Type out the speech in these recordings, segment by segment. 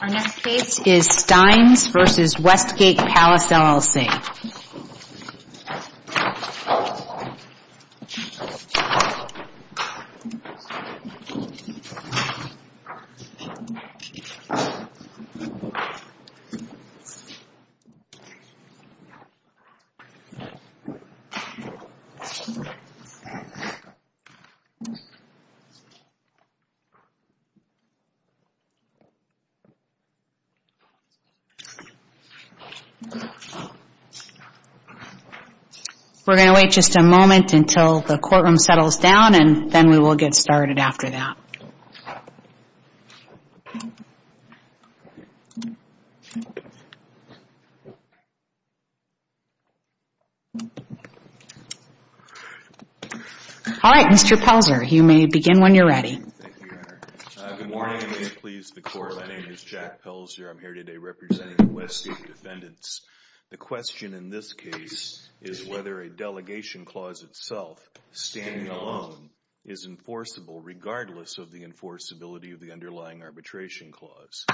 Our next case is Steines v. Westgate Palace, L.L.C. We're going to wait just a moment until the courtroom settles down, and then we will get started after that. All right, Mr. Pelzer, you may begin when you're ready. Thank you, Your Honor. Good morning. May it please the Court, my name is Jack Pelzer. I'm here today representing the Westgate defendants. The question in this case is whether a delegation clause itself, standing alone, is enforceable regardless of the enforceability of the underlying arbitration clause.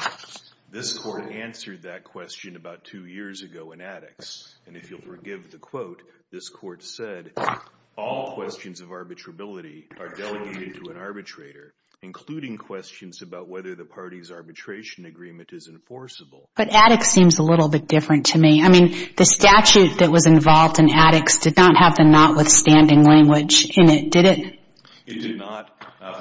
This Court answered that question about two years ago in Attucks, and if you'll forgive the quote, this Court said, all questions of arbitrability are delegated to an arbitrator, including questions about whether the party's arbitration agreement is enforceable. But Attucks seems a little bit different to me. I mean, the statute that was involved in Attucks did not have the notwithstanding language in it, did it? It did not.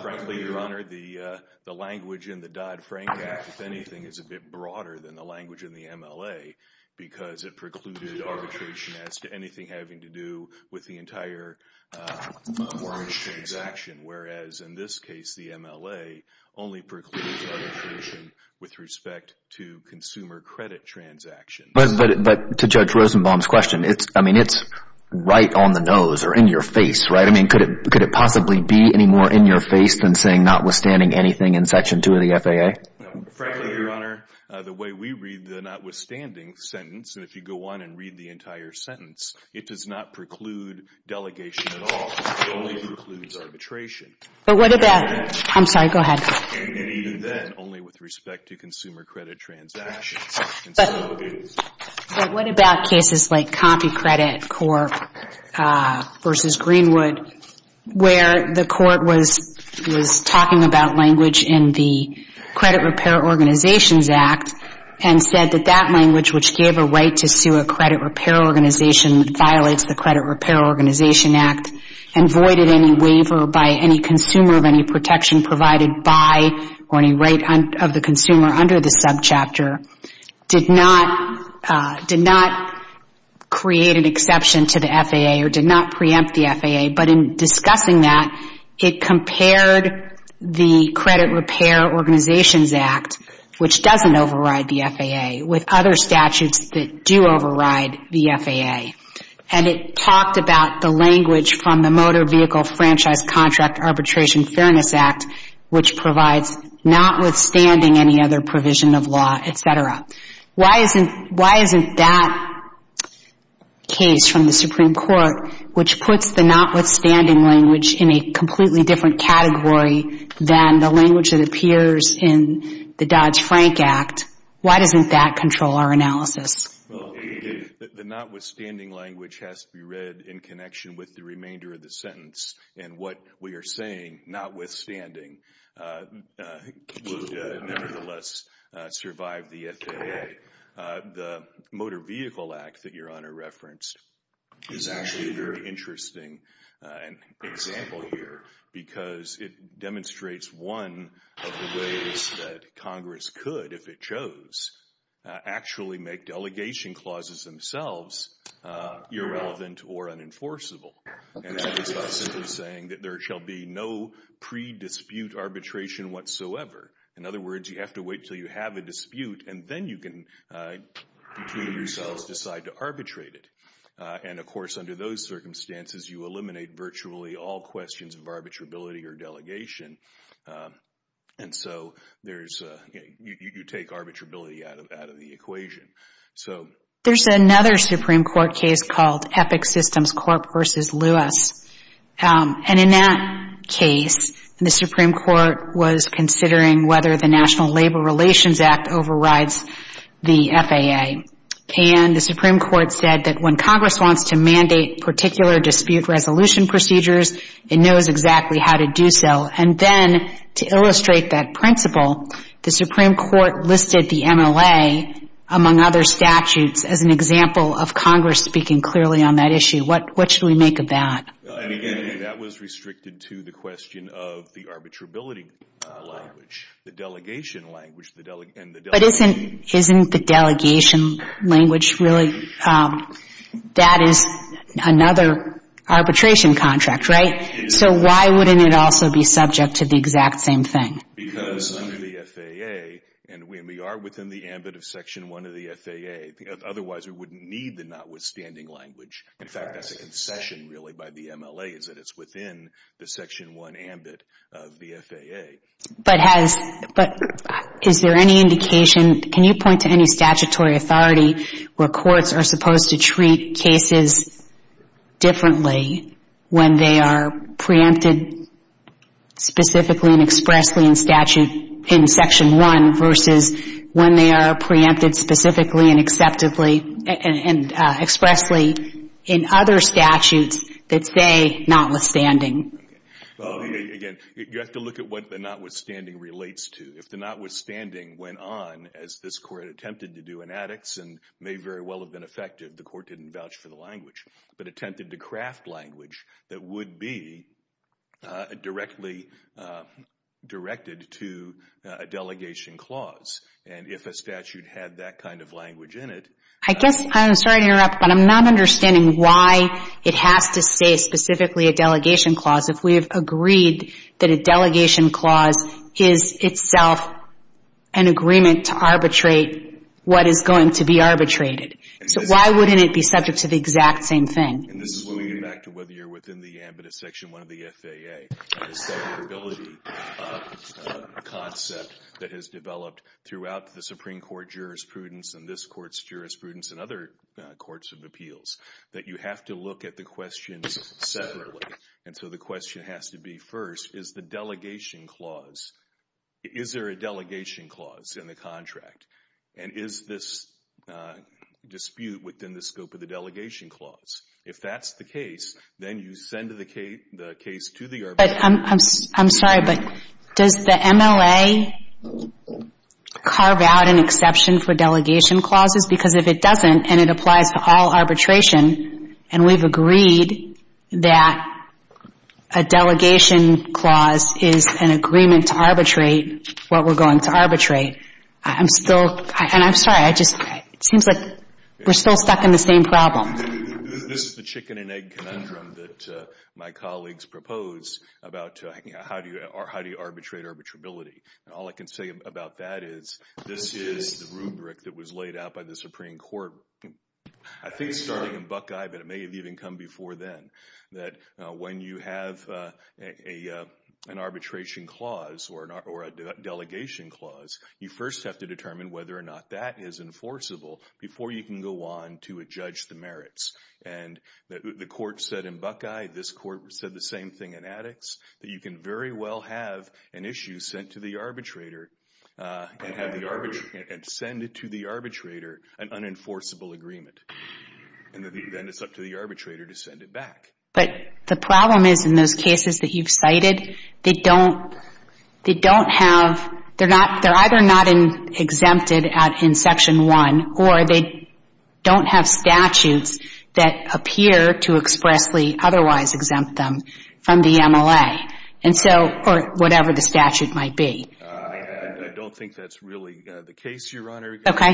Frankly, Your Honor, the language in the Dodd-Frank Act, if anything, is a bit broader than the arbitration as to anything having to do with the entire transaction, whereas in this case, the MLA only precludes arbitration with respect to consumer credit transactions. But to Judge Rosenbaum's question, I mean, it's right on the nose or in your face, right? I mean, could it possibly be any more in your face than saying notwithstanding anything in Section 2 of the FAA? Frankly, Your Honor, the way we read the notwithstanding sentence, and if you go on and read the entire sentence, it does not preclude delegation at all. It only precludes arbitration. But what about — I'm sorry, go ahead. And even then, only with respect to consumer credit transactions. But what about cases like CompuCredit Corp. versus Greenwood, where the court was talking about language in the Credit Repair Organizations Act and said that that language, which gave a right to sue a credit repair organization that violates the Credit Repair Organization Act and voided any waiver by any consumer of any protection provided by or any right of the consumer under the subchapter, did not create an exception to the FAA or did not preempt the FAA. But in discussing that, it compared the Credit Repair Organizations Act, which doesn't override the FAA, with other statutes that do override the FAA. And it talked about the language from the Motor Vehicle Franchise Contract Arbitration Fairness Act, which provides notwithstanding any other provision of law, et cetera. Why isn't that case from the Supreme Court, which puts the notwithstanding language in a completely different category than the language that appears in the Dodge-Frank Act, why doesn't that control our analysis? Well, the notwithstanding language has to be read in connection with the remainder of the sentence. And what we are saying, notwithstanding, would nevertheless survive the FAA. The Motor Vehicle Act that Your Honor referenced is actually a very interesting example. Because it demonstrates one of the ways that Congress could, if it chose, actually make delegation clauses themselves irrelevant or unenforceable. And that is by simply saying that there shall be no pre-dispute arbitration whatsoever. In other words, you have to wait until you have a dispute and then you can, between yourselves, decide to arbitrate it. And of course, under those circumstances, you eliminate virtually all questions of arbitrability or delegation. And so, you take arbitrability out of the equation. There's another Supreme Court case called Epic Systems Corp. v. Lewis. And in that case, the Supreme Court was considering whether the National Labor Relations Act overrides the FAA. And the Supreme Court said that when Congress wants to mandate particular dispute resolution procedures, it knows exactly how to do so. And then, to illustrate that principle, the Supreme Court listed the MLA, among other statutes, as an example of Congress speaking clearly on that issue. What should we make of that? That was restricted to the question of the arbitrability language. The delegation language. But isn't the delegation language really, that is another arbitration contract, right? So, why wouldn't it also be subject to the exact same thing? Because under the FAA, and we are within the ambit of Section 1 of the FAA, otherwise we wouldn't need the notwithstanding language. In fact, that's a concession, really, by the MLA, is that it's within the Section 1 ambit of the FAA. But has, is there any indication, can you point to any statutory authority where courts are supposed to treat cases differently when they are preempted specifically and expressly in statute, in Section 1, versus when they are preempted specifically and acceptably and expressly in other statutes that say notwithstanding? Again, you have to look at what the notwithstanding relates to. If the notwithstanding went on, as this Court attempted to do in Addicts and may very well have been effective, the Court didn't vouch for the language, but attempted to craft language that would be directly directed to a delegation clause. And if a statute had that kind of language in it... I guess, I'm sorry to interrupt, but I'm not understanding why it has to say specifically a delegation clause if we have agreed that a delegation clause is itself an agreement to arbitrate what is going to be arbitrated. So why wouldn't it be subject to the exact same thing? And this is when we get back to whether you're within the ambit of Section 1 of the FAA, the separability concept that has developed throughout the Supreme Court jurisprudence and this Court's jurisprudence and other courts of appeals, that you have to look at the questions separately. And so the question has to be, first, is the delegation clause... Is there a delegation clause in the contract? And is this dispute within the scope of the delegation clause? If that's the case, then you send the case to the arbitration... I'm sorry, but does the MLA carve out an exception for delegation clauses? Because if it doesn't, and it applies to all arbitration, and we've agreed that a delegation clause is an agreement to arbitrate what we're going to arbitrate, I'm still... And I'm sorry, I just... It seems like we're still stuck in the same problem. This is the chicken and egg conundrum that my colleagues propose about how do you arbitrate arbitrability. And all I can say about that is this is the rubric that was laid out by the Supreme Court, I think starting in Buckeye, but it may have even come before then, that when you have an arbitration clause or a delegation clause, you first have to determine whether or not that is enforceable before you can go on to adjudge the merits. And the Court said in Buckeye, this Court said the same thing in Addicts, that you can very well have an issue sent to the arbitrator and send it to the arbitrator, an unenforceable agreement, and then it's up to the arbitrator to send it back. But the problem is in those cases that you've cited, they don't have... They're either not exempted in Section 1, or they don't have statutes that appear to expressly otherwise exempt them from the MLA. Or whatever the statute might be. I don't think that's really the case, Your Honor. Okay.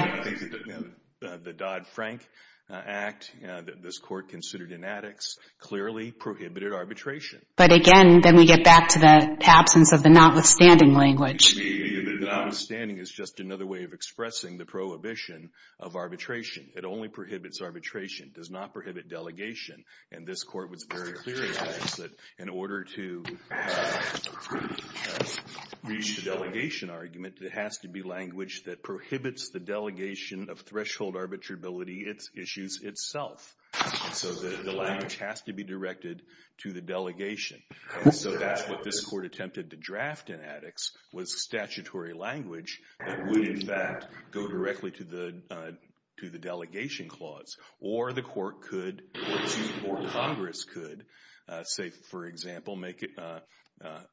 The Dodd-Frank Act that this Court considered in Addicts clearly prohibited arbitration. But again, then we get back to the absence of the notwithstanding language. The notwithstanding is just another way of expressing the prohibition of arbitration. It only prohibits arbitration. It does not prohibit delegation. And this Court was very clear in Addicts that in order to reach the delegation argument, there has to be language that prohibits the delegation of threshold arbitrability issues itself. And so the language has to be directed to the delegation. And so that's what this Court attempted to draft in Addicts, was statutory language that would in fact go directly to the delegation clause. Or the Court could, or Congress could, say for example, make it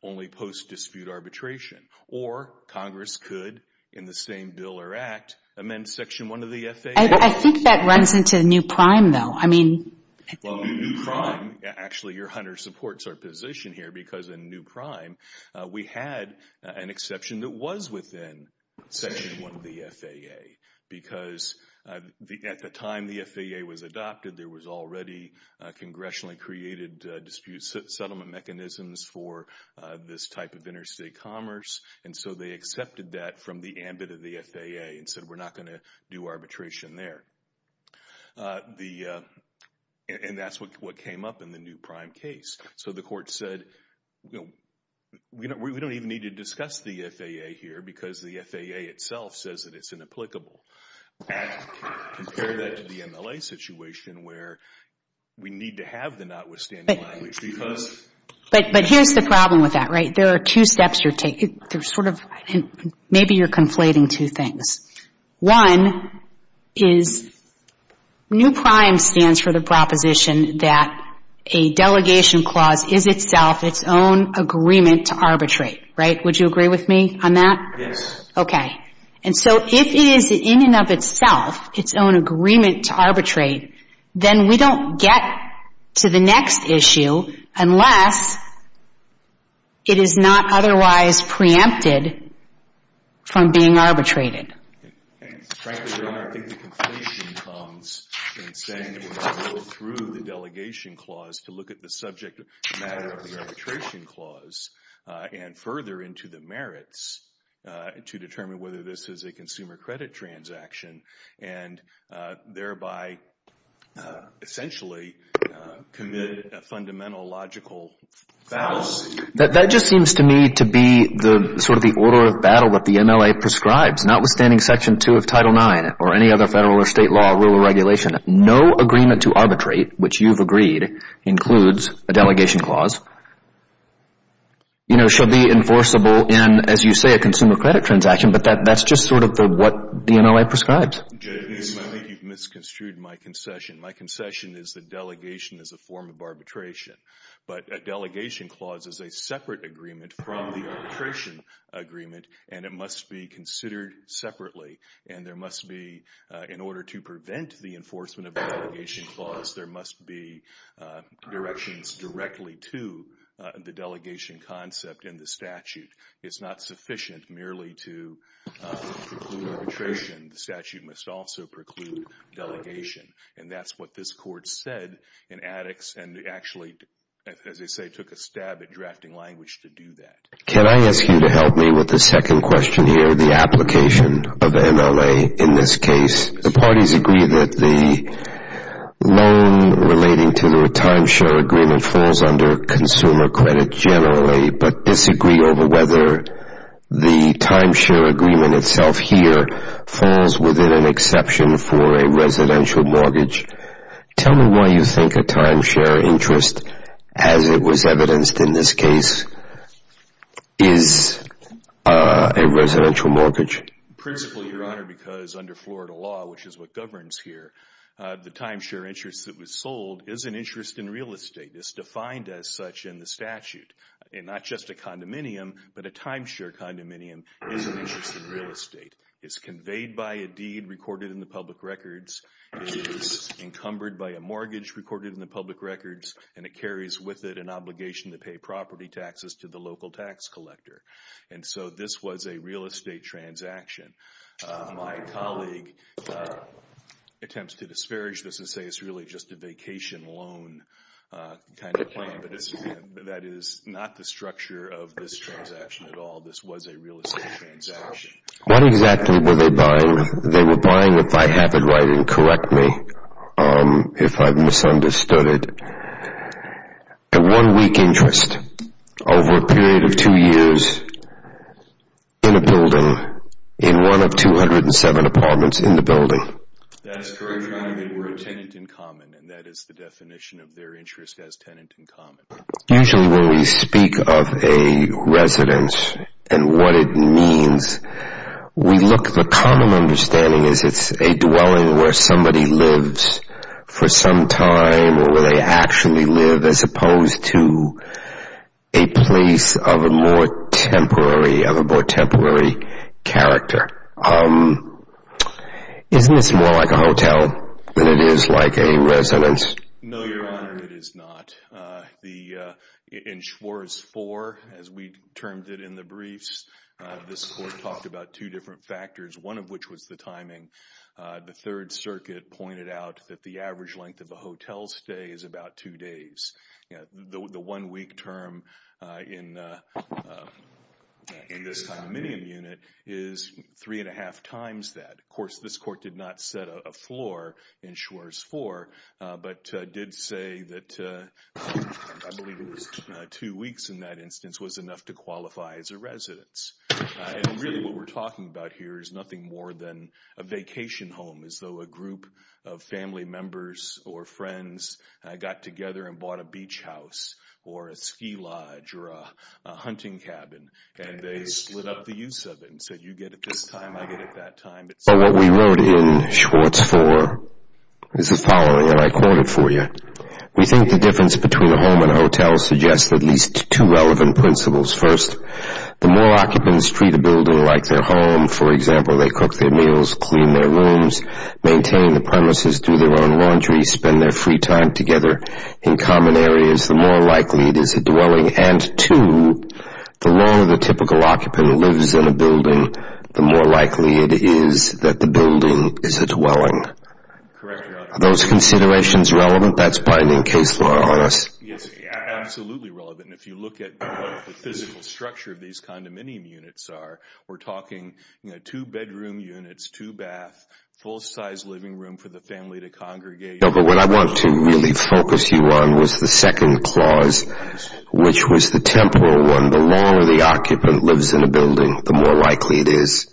only post-dispute arbitration. Or Congress could, in the same bill or act, amend Section 1 of the FAA. I think that runs into the new prime, though. I mean... Well, new prime, actually Your Honor supports our position here because in new prime, we had an exception that was within Section 1 of the FAA. Because at the time the FAA was adopted, there was already congressionally created dispute settlement mechanisms for this type of interstate commerce. And so they accepted that from the ambit of the FAA and said, we're not going to do arbitration there. And that's what came up in the new prime case. So the Court said, we don't even need to discuss the FAA here because the FAA itself says that it's inapplicable. Compare that to the MLA situation where we need to have the notwithstanding language. Because... But here's the problem with that, right? There are two steps you're taking. There's sort of, maybe you're conflating two things. One is new prime stands for the proposition that a delegation clause is itself its own agreement to arbitrate, right? Would you agree with me on that? Yes. Okay. And so if it is in and of itself its own agreement to arbitrate, then we don't get to the next issue unless it is not otherwise preempted from being arbitrated. Frankly, Your Honor, I think the conflation comes in saying when you go through the delegation clause to look at the subject matter of the arbitration clause and further into the merits to determine whether this is a consumer credit transaction and thereby essentially commit a fundamental logical fallacy. That just seems to me to be sort of the order of battle that the MLA prescribes. Notwithstanding Section 2 of Title IX or any other federal or state law, rule or regulation, no agreement to arbitrate, which you've agreed, includes a delegation clause, you know, should be enforceable in, as you say, a consumer credit transaction. But that's just sort of what the MLA prescribes. Jay, I think you've misconstrued my concession. My concession is that delegation is a form of arbitration. But a delegation clause is a separate agreement from the arbitration agreement, and it must be considered separately. And there must be, in order to prevent the enforcement of a delegation clause, there must be directions directly to the delegation concept in the statute. It's not sufficient merely to preclude arbitration. The statute must also preclude delegation. And that's what this Court said in Addicts and actually, as they say, took a stab at drafting language to do that. Can I ask you to help me with the second question here, the application of the MLA? The parties agree that the loan relating to the timeshare agreement falls under consumer credit generally, but disagree over whether the timeshare agreement itself here falls within an exception for a residential mortgage. Tell me why you think a timeshare interest, as it was evidenced in this case, is a residential mortgage. Principally, Your Honor, because under Florida law, which is what governs here, the timeshare interest that was sold is an interest in real estate. It's defined as such in the statute. And not just a condominium, but a timeshare condominium is an interest in real estate. It's conveyed by a deed recorded in the public records. It is encumbered by a mortgage recorded in the public records, and it carries with it an obligation to pay property taxes to the local tax collector. And so this was a real estate transaction. My colleague attempts to disparage this and say it's really just a vacation loan kind of plan, but that is not the structure of this transaction at all. This was a real estate transaction. What exactly were they buying? They were buying, if I have it right and correct me if I've misunderstood it, a one-week interest. Over a period of two years in a building, in one of 207 apartments in the building. That's correct, Your Honor. They were a tenant in common, and that is the definition of their interest as tenant in common. Usually when we speak of a residence and what it means, we look at the common understanding as it's a dwelling where somebody lives for some time or where they actually live as opposed to a place of a more temporary character. Isn't this more like a hotel than it is like a residence? No, Your Honor, it is not. In Schwarz 4, as we termed it in the briefs, this Court talked about two different factors, one of which was the timing. The Third Circuit pointed out that the average length of a hotel stay is about two days. The one-week term in this condominium unit is three and a half times that. Of course, this Court did not set a floor in Schwarz 4, but did say that I believe it was two weeks in that instance was enough to qualify as a residence. And really what we're talking about here is nothing more than a vacation home, as though a group of family members or friends got together and bought a beach house or a ski lodge or a hunting cabin, and they split up the use of it and said you get it this time, I get it that time. What we wrote in Schwarz 4 is the following, and I quote it for you. We think the difference between a home and a hotel suggests at least two relevant principles. First, the more occupants treat a building like their home, for example, they cook their meals, clean their rooms, maintain the premises, do their own laundry, spend their free time together in common areas, the more likely it is a dwelling. And two, the longer the typical occupant lives in a building, the more likely it is that the building is a dwelling. Are those considerations relevant? That's binding case law on us. Yes, absolutely relevant. And if you look at what the physical structure of these condominium units are, we're talking two-bedroom units, two baths, full-size living room for the family to congregate. But what I want to really focus you on was the second clause, which was the temporal one. The longer the occupant lives in a building, the more likely it is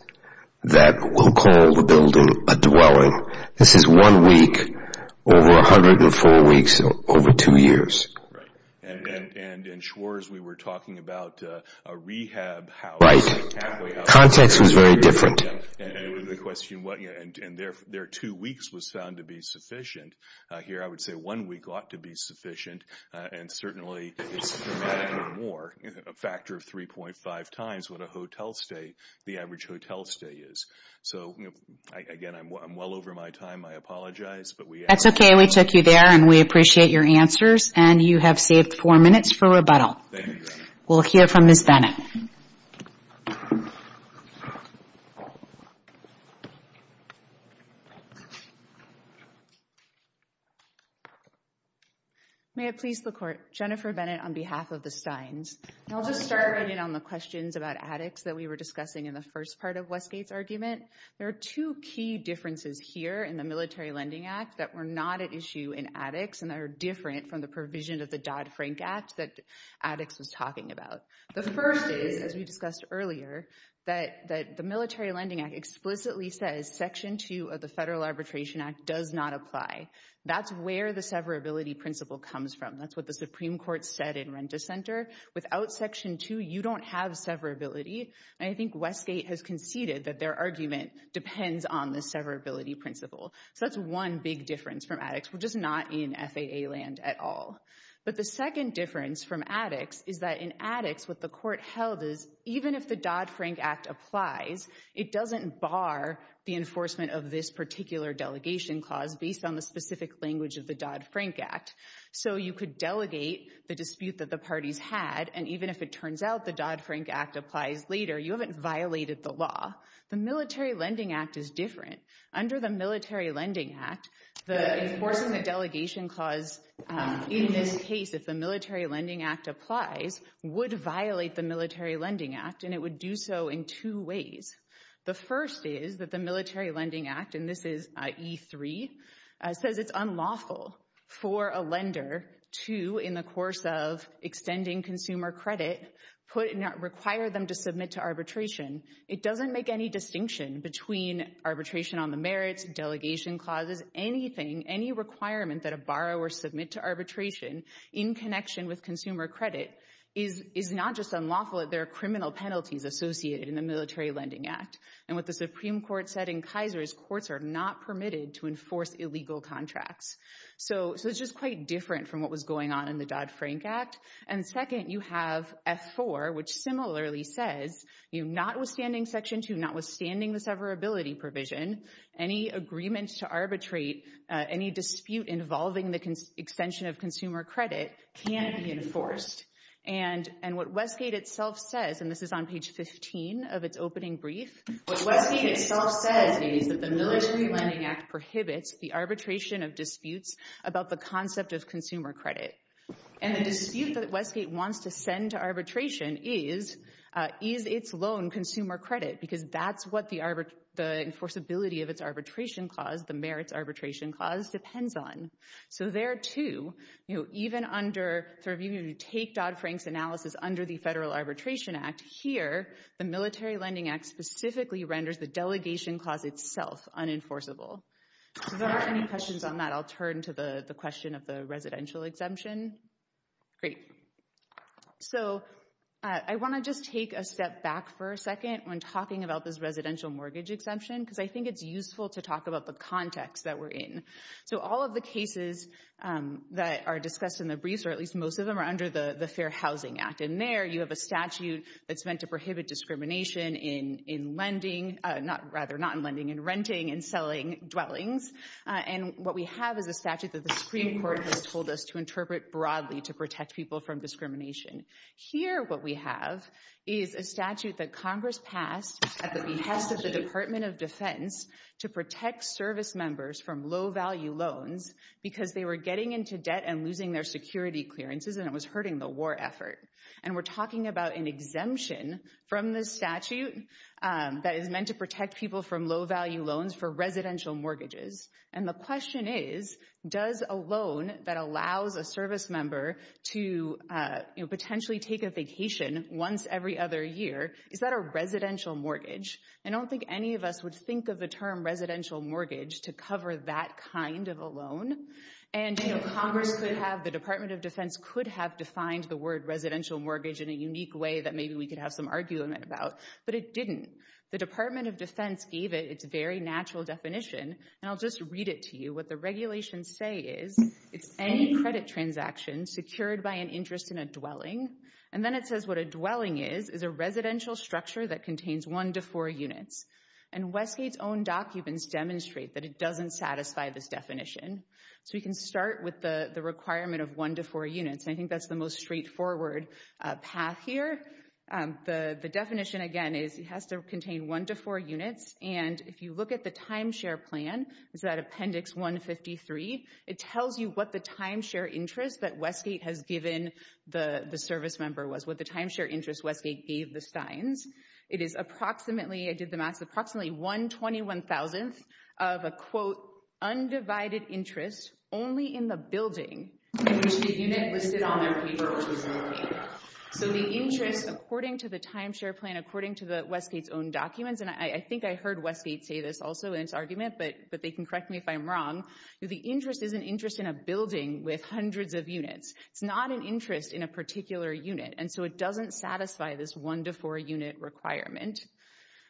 that we'll call the building a dwelling. This is one week over 104 weeks over two years. And Schwarz, we were talking about a rehab house. Right. Context was very different. And there are two weeks was found to be sufficient. Here I would say one week ought to be sufficient, and certainly it's dramatically more, a factor of 3.5 times what a hotel stay, the average hotel stay is. So, again, I'm well over my time. I apologize. That's okay. We took you there, and we appreciate your answers. And you have saved four minutes for rebuttal. We'll hear from Ms. Bennett. May it please the Court, Jennifer Bennett on behalf of the Steins. I'll just start right in on the questions about addicts that we were discussing in the first part of Westgate's argument. There are two key differences here in the Military Lending Act that were not at issue in addicts and that are different from the provision of the Dodd-Frank Act that addicts was talking about. The first is, as we discussed earlier, that the Military Lending Act explicitly says Section 2 of the Federal Arbitration Act does not apply. That's where the severability principle comes from. That's what the Supreme Court said in Renta Center. Without Section 2, you don't have severability. And I think Westgate has conceded that their argument depends on the severability principle. So that's one big difference from addicts. We're just not in FAA land at all. But the second difference from addicts is that in addicts, what the Court held is even if the Dodd-Frank Act applies, it doesn't bar the enforcement of this particular delegation clause based on the specific language of the Dodd-Frank Act. So you could delegate the dispute that the parties had, and even if it turns out the Dodd-Frank Act applies later, you haven't violated the law. The Military Lending Act is different. Under the Military Lending Act, enforcing the delegation clause in this case, if the Military Lending Act applies, would violate the Military Lending Act, and it would do so in two ways. The first is that the Military Lending Act, and this is E3, says it's unlawful for a lender to, in the course of extending consumer credit, require them to submit to arbitration. It doesn't make any distinction between arbitration on the merits, delegation clauses, anything. Any requirement that a borrower submit to arbitration in connection with consumer credit is not just unlawful, there are criminal penalties associated in the Military Lending Act. And what the Supreme Court said in Kaiser is courts are not permitted to enforce illegal contracts. So it's just quite different from what was going on in the Dodd-Frank Act. And second, you have F4, which similarly says, notwithstanding Section 2, notwithstanding the severability provision, any agreement to arbitrate any dispute involving the extension of consumer credit can't be enforced. And what Westgate itself says, and this is on page 15 of its opening brief, what Westgate itself says is that the Military Lending Act prohibits the arbitration of disputes about the concept of consumer credit. And the dispute that Westgate wants to send to arbitration is, is its loan consumer credit, because that's what the enforceability of its arbitration clause, the merits arbitration clause, depends on. So there, too, you know, even under, if you take Dodd-Frank's analysis under the Federal Arbitration Act, here, the Military Lending Act specifically renders the delegation clause itself unenforceable. So if there aren't any questions on that, I'll turn to the question of the residential exemption. Great. So I want to just take a step back for a second when talking about this residential mortgage exemption, because I think it's useful to talk about the context that we're in. So all of the cases that are discussed in the briefs, or at least most of them, are under the Fair Housing Act. And there, you have a statute that's meant to prohibit discrimination in lending, rather not in lending, in renting and selling dwellings. And what we have is a statute that the Supreme Court has told us to interpret broadly to protect people from discrimination. Here, what we have is a statute that Congress passed at the behest of the Department of Defense to protect service members from low-value loans because they were getting into debt and losing their security clearances, and it was hurting the war effort. And we're talking about an exemption from this statute that is meant to protect people from low-value loans for residential mortgages. And the question is, does a loan that allows a service member to potentially take a vacation once every other year, is that a residential mortgage? I don't think any of us would think of the term residential mortgage to cover that kind of a loan. And Congress could have, the Department of Defense could have defined the word residential mortgage in a unique way that maybe we could have some argument about, but it didn't. The Department of Defense gave it its very natural definition, and I'll just read it to you. What the regulations say is, it's any credit transaction secured by an interest in a dwelling. And then it says what a dwelling is, is a residential structure that contains one to four units. And Westgate's own documents demonstrate that it doesn't satisfy this definition. So we can start with the requirement of one to four units, and I think that's the most straightforward path here. The definition, again, is it has to contain one to four units, and if you look at the timeshare plan, it's at appendix 153, it tells you what the timeshare interest that Westgate has given the service member was, what the timeshare interest Westgate gave the Steins. It is approximately, I did the math, approximately 121,000th of a, quote, undivided interest only in the building in which the unit listed on their paper was located. So the interest, according to the timeshare plan, according to Westgate's own documents, and I think I heard Westgate say this also in its argument, but they can correct me if I'm wrong. The interest is an interest in a building with hundreds of units. It's not an interest in a particular unit, and so it doesn't satisfy this one to four unit requirement.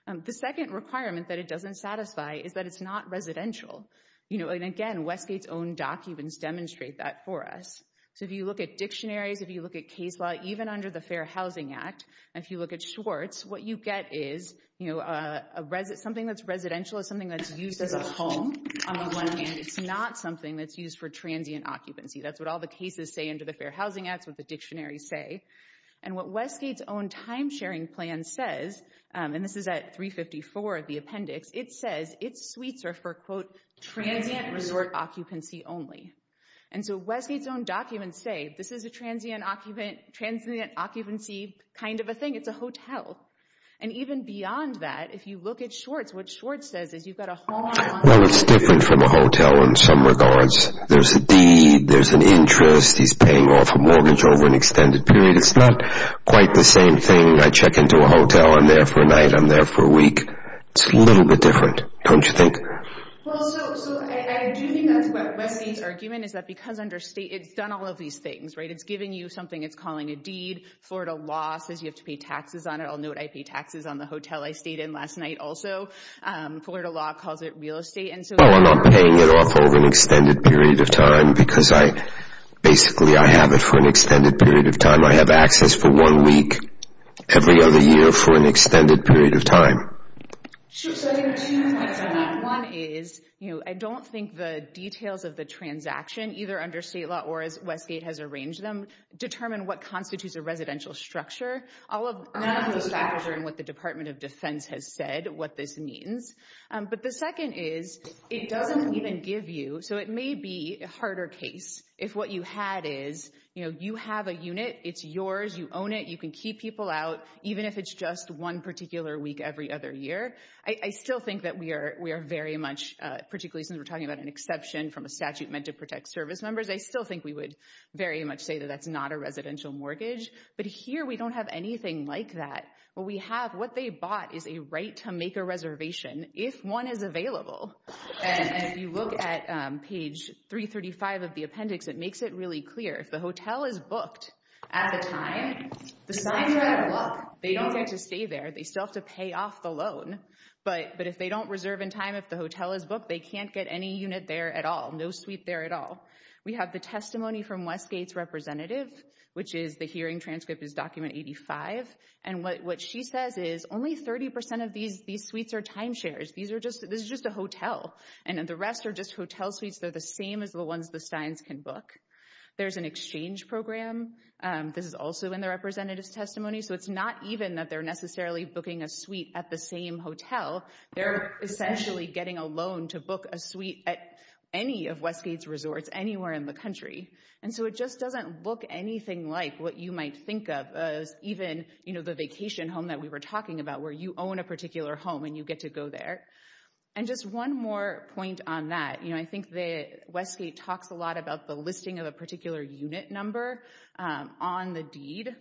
The second requirement that it doesn't satisfy is that it's not residential. And again, Westgate's own documents demonstrate that for us. So if you look at dictionaries, if you look at case law, even under the Fair Housing Act, if you look at Schwartz, what you get is something that's residential is something that's used as a home. It's not something that's used for transient occupancy. That's what all the cases say under the Fair Housing Act, what the dictionaries say. And what Westgate's own timesharing plan says, and this is at 354 of the appendix, it says its suites are for, quote, transient resort occupancy only. And so Westgate's own documents say this is a transient occupancy kind of a thing. It's a hotel. And even beyond that, if you look at Schwartz, what Schwartz says is you've got a home. Well, it's different from a hotel in some regards. There's a deed. There's an interest. He's paying off a mortgage over an extended period. It's not quite the same thing. I check into a hotel. I'm there for a night. I'm there for a week. It's a little bit different, don't you think? Well, so I do think that's what Westgate's argument is that because under state it's done all of these things, right? It's giving you something it's calling a deed. Florida law says you have to pay taxes on it. I'll note I pay taxes on the hotel I stayed in last night also. Florida law calls it real estate. Well, I'm not paying it off over an extended period of time because I basically I have it for an extended period of time. I have access for one week every other year for an extended period of time. One is I don't think the details of the transaction either under state law or as Westgate has arranged them determine what constitutes a residential structure. None of those factors are in what the Department of Defense has said what this means. But the second is it doesn't even give you. So it may be a harder case if what you had is you have a unit. It's yours. You own it. You can keep people out even if it's just one particular week every other year. I still think that we are very much particularly since we're talking about an exception from a statute meant to protect service members. I still think we would very much say that that's not a residential mortgage. But here we don't have anything like that. What we have what they bought is a right to make a reservation if one is available. And if you look at page 335 of the appendix, it makes it really clear if the hotel is booked at the time, the signs are out of luck. They don't get to stay there. They still have to pay off the loan. But if they don't reserve in time, if the hotel is booked, they can't get any unit there at all. No suite there at all. We have the testimony from Westgate's representative, which is the hearing transcript is document 85. And what she says is only 30% of these suites are timeshares. This is just a hotel. And the rest are just hotel suites. They're the same as the ones the signs can book. There's an exchange program. This is also in the representative's testimony. So it's not even that they're necessarily booking a suite at the same hotel. They're essentially getting a loan to book a suite at any of Westgate's resorts anywhere in the country. And so it just doesn't look anything like what you might think of as even, you know, the vacation home that we were talking about where you own a particular home and you get to go there. And just one more point on that. You know, I think that Westgate talks a lot about the listing of a particular unit number on the deed.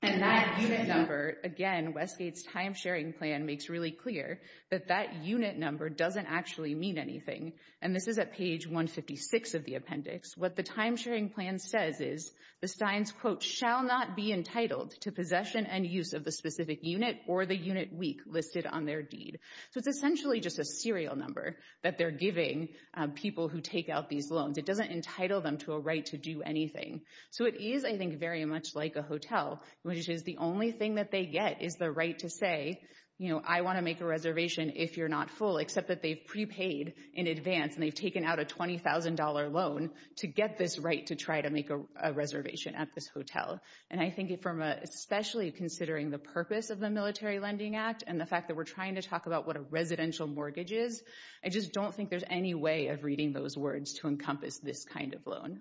And that unit number, again, Westgate's timesharing plan makes really clear that that unit number doesn't actually mean anything. And this is at page 156 of the appendix. What the timesharing plan says is the signs, quote, shall not be entitled to possession and use of the specific unit or the unit week listed on their deed. So it's essentially just a serial number that they're giving people who take out these loans. It doesn't entitle them to a right to do anything. So it is, I think, very much like a hotel, which is the only thing that they get is the right to say, you know, I want to make a reservation if you're not full, except that they've prepaid in advance and they've taken out a $20,000 loan to get this right to try to make a reservation at this hotel. And I think, especially considering the purpose of the Military Lending Act and the fact that we're trying to talk about what a residential mortgage is, I just don't think there's any way of reading those words to encompass this kind of loan.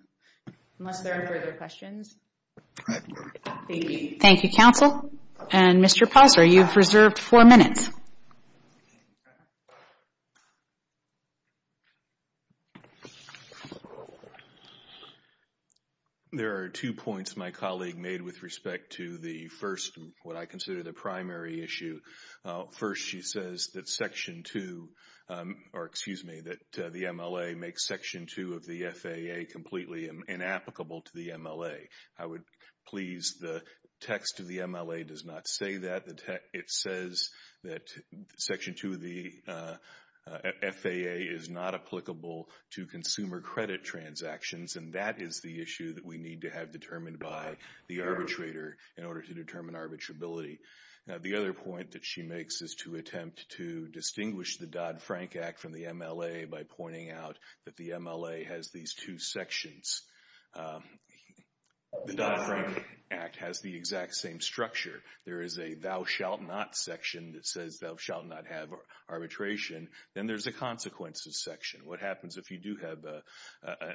Unless there are further questions. Thank you, counsel. And Mr. Posser, you've reserved four minutes. Thank you. There are two points my colleague made with respect to the first, what I consider the primary issue. First, she says that Section 2, or excuse me, that the MLA makes Section 2 of the FAA completely inapplicable to the MLA. I would please the text of the MLA does not say that. It says that Section 2 of the FAA is not applicable to consumer credit transactions, and that is the issue that we need to have determined by the arbitrator in order to determine arbitrability. The other point that she makes is to attempt to distinguish the Dodd-Frank Act from the MLA by pointing out that the MLA has these two sections. The Dodd-Frank Act has the exact same structure. There is a thou shalt not section that says thou shalt not have arbitration. Then there's a consequences section. What happens if you do have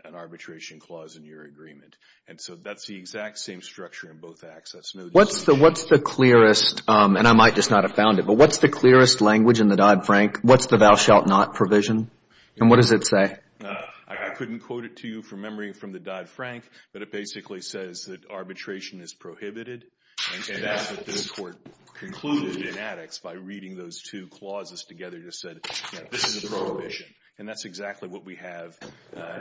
an arbitration clause in your agreement? And so that's the exact same structure in both Acts. What's the clearest, and I might just not have found it, but what's the clearest language in the Dodd-Frank? What's the thou shalt not provision? And what does it say? I couldn't quote it to you from memory from the Dodd-Frank, but it basically says that arbitration is prohibited. And that's what this Court concluded in Attics by reading those two clauses together. It just said, you know, this is a prohibition, and that's exactly what we have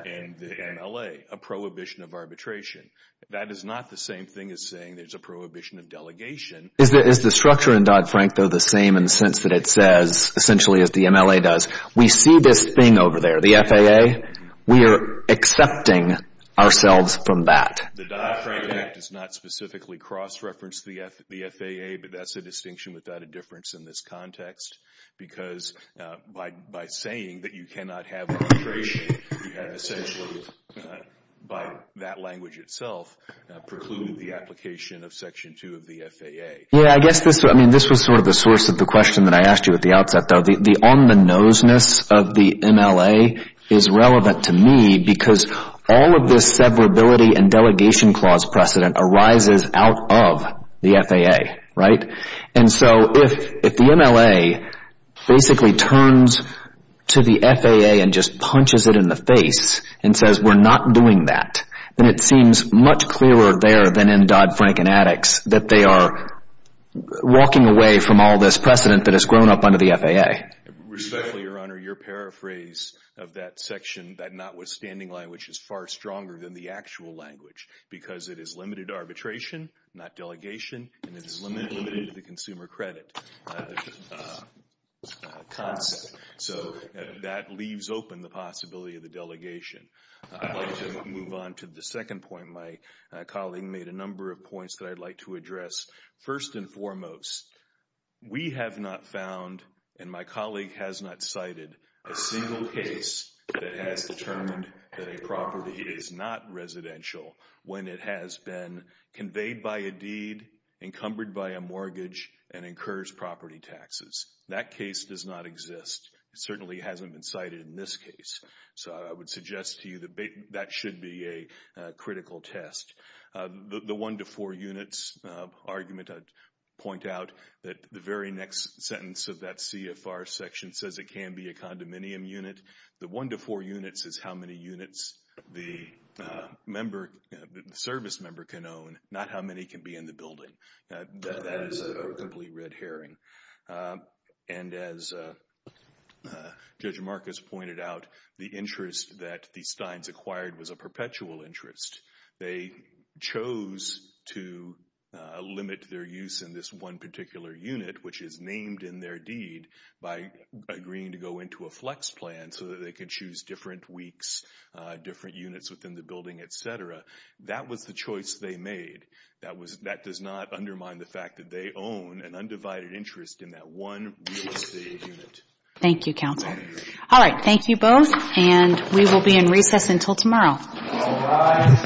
in the MLA, a prohibition of arbitration. That is not the same thing as saying there's a prohibition of delegation. Is the structure in Dodd-Frank, though, the same in the sense that it says, essentially, as the MLA does, we see this thing over there, the FAA? We are accepting ourselves from that. The Dodd-Frank Act does not specifically cross-reference the FAA, but that's a distinction without a difference in this context. Because by saying that you cannot have arbitration, you have essentially, by that language itself, precluded the application of Section 2 of the FAA. Yeah, I guess this was sort of the source of the question that I asked you at the outset, though. The on-the-noseness of the MLA is relevant to me because all of this severability and delegation clause precedent arises out of the FAA, right? And so if the MLA basically turns to the FAA and just punches it in the face and says, we're not doing that, then it seems much clearer there than in Dodd-Frank and Attucks that they are walking away from all this precedent that has grown up under the FAA. Respectfully, Your Honor, your paraphrase of that section, that notwithstanding language, is far stronger than the actual language. Because it is limited arbitration, not delegation, and it is limited to the consumer credit concept. So that leaves open the possibility of the delegation. I'd like to move on to the second point. My colleague made a number of points that I'd like to address. First and foremost, we have not found, and my colleague has not cited, a single case that has determined that a property is not residential when it has been conveyed by a deed, encumbered by a mortgage, and incurs property taxes. That case does not exist. It certainly hasn't been cited in this case. So I would suggest to you that that should be a critical test. The one-to-four units argument, I'd point out that the very next sentence of that CFR section says it can be a condominium unit. The one-to-four units is how many units the service member can own, not how many can be in the building. That is a completely red herring. And as Judge Marcus pointed out, the interest that the Steins acquired was a perpetual interest. They chose to limit their use in this one particular unit, which is named in their deed, by agreeing to go into a flex plan so that they could choose different weeks, different units within the building, et cetera. That was the choice they made. That does not undermine the fact that they own an undivided interest in that one real estate unit. Thank you, Counsel. All right. Thank you both, and we will be in recess until tomorrow. All rise.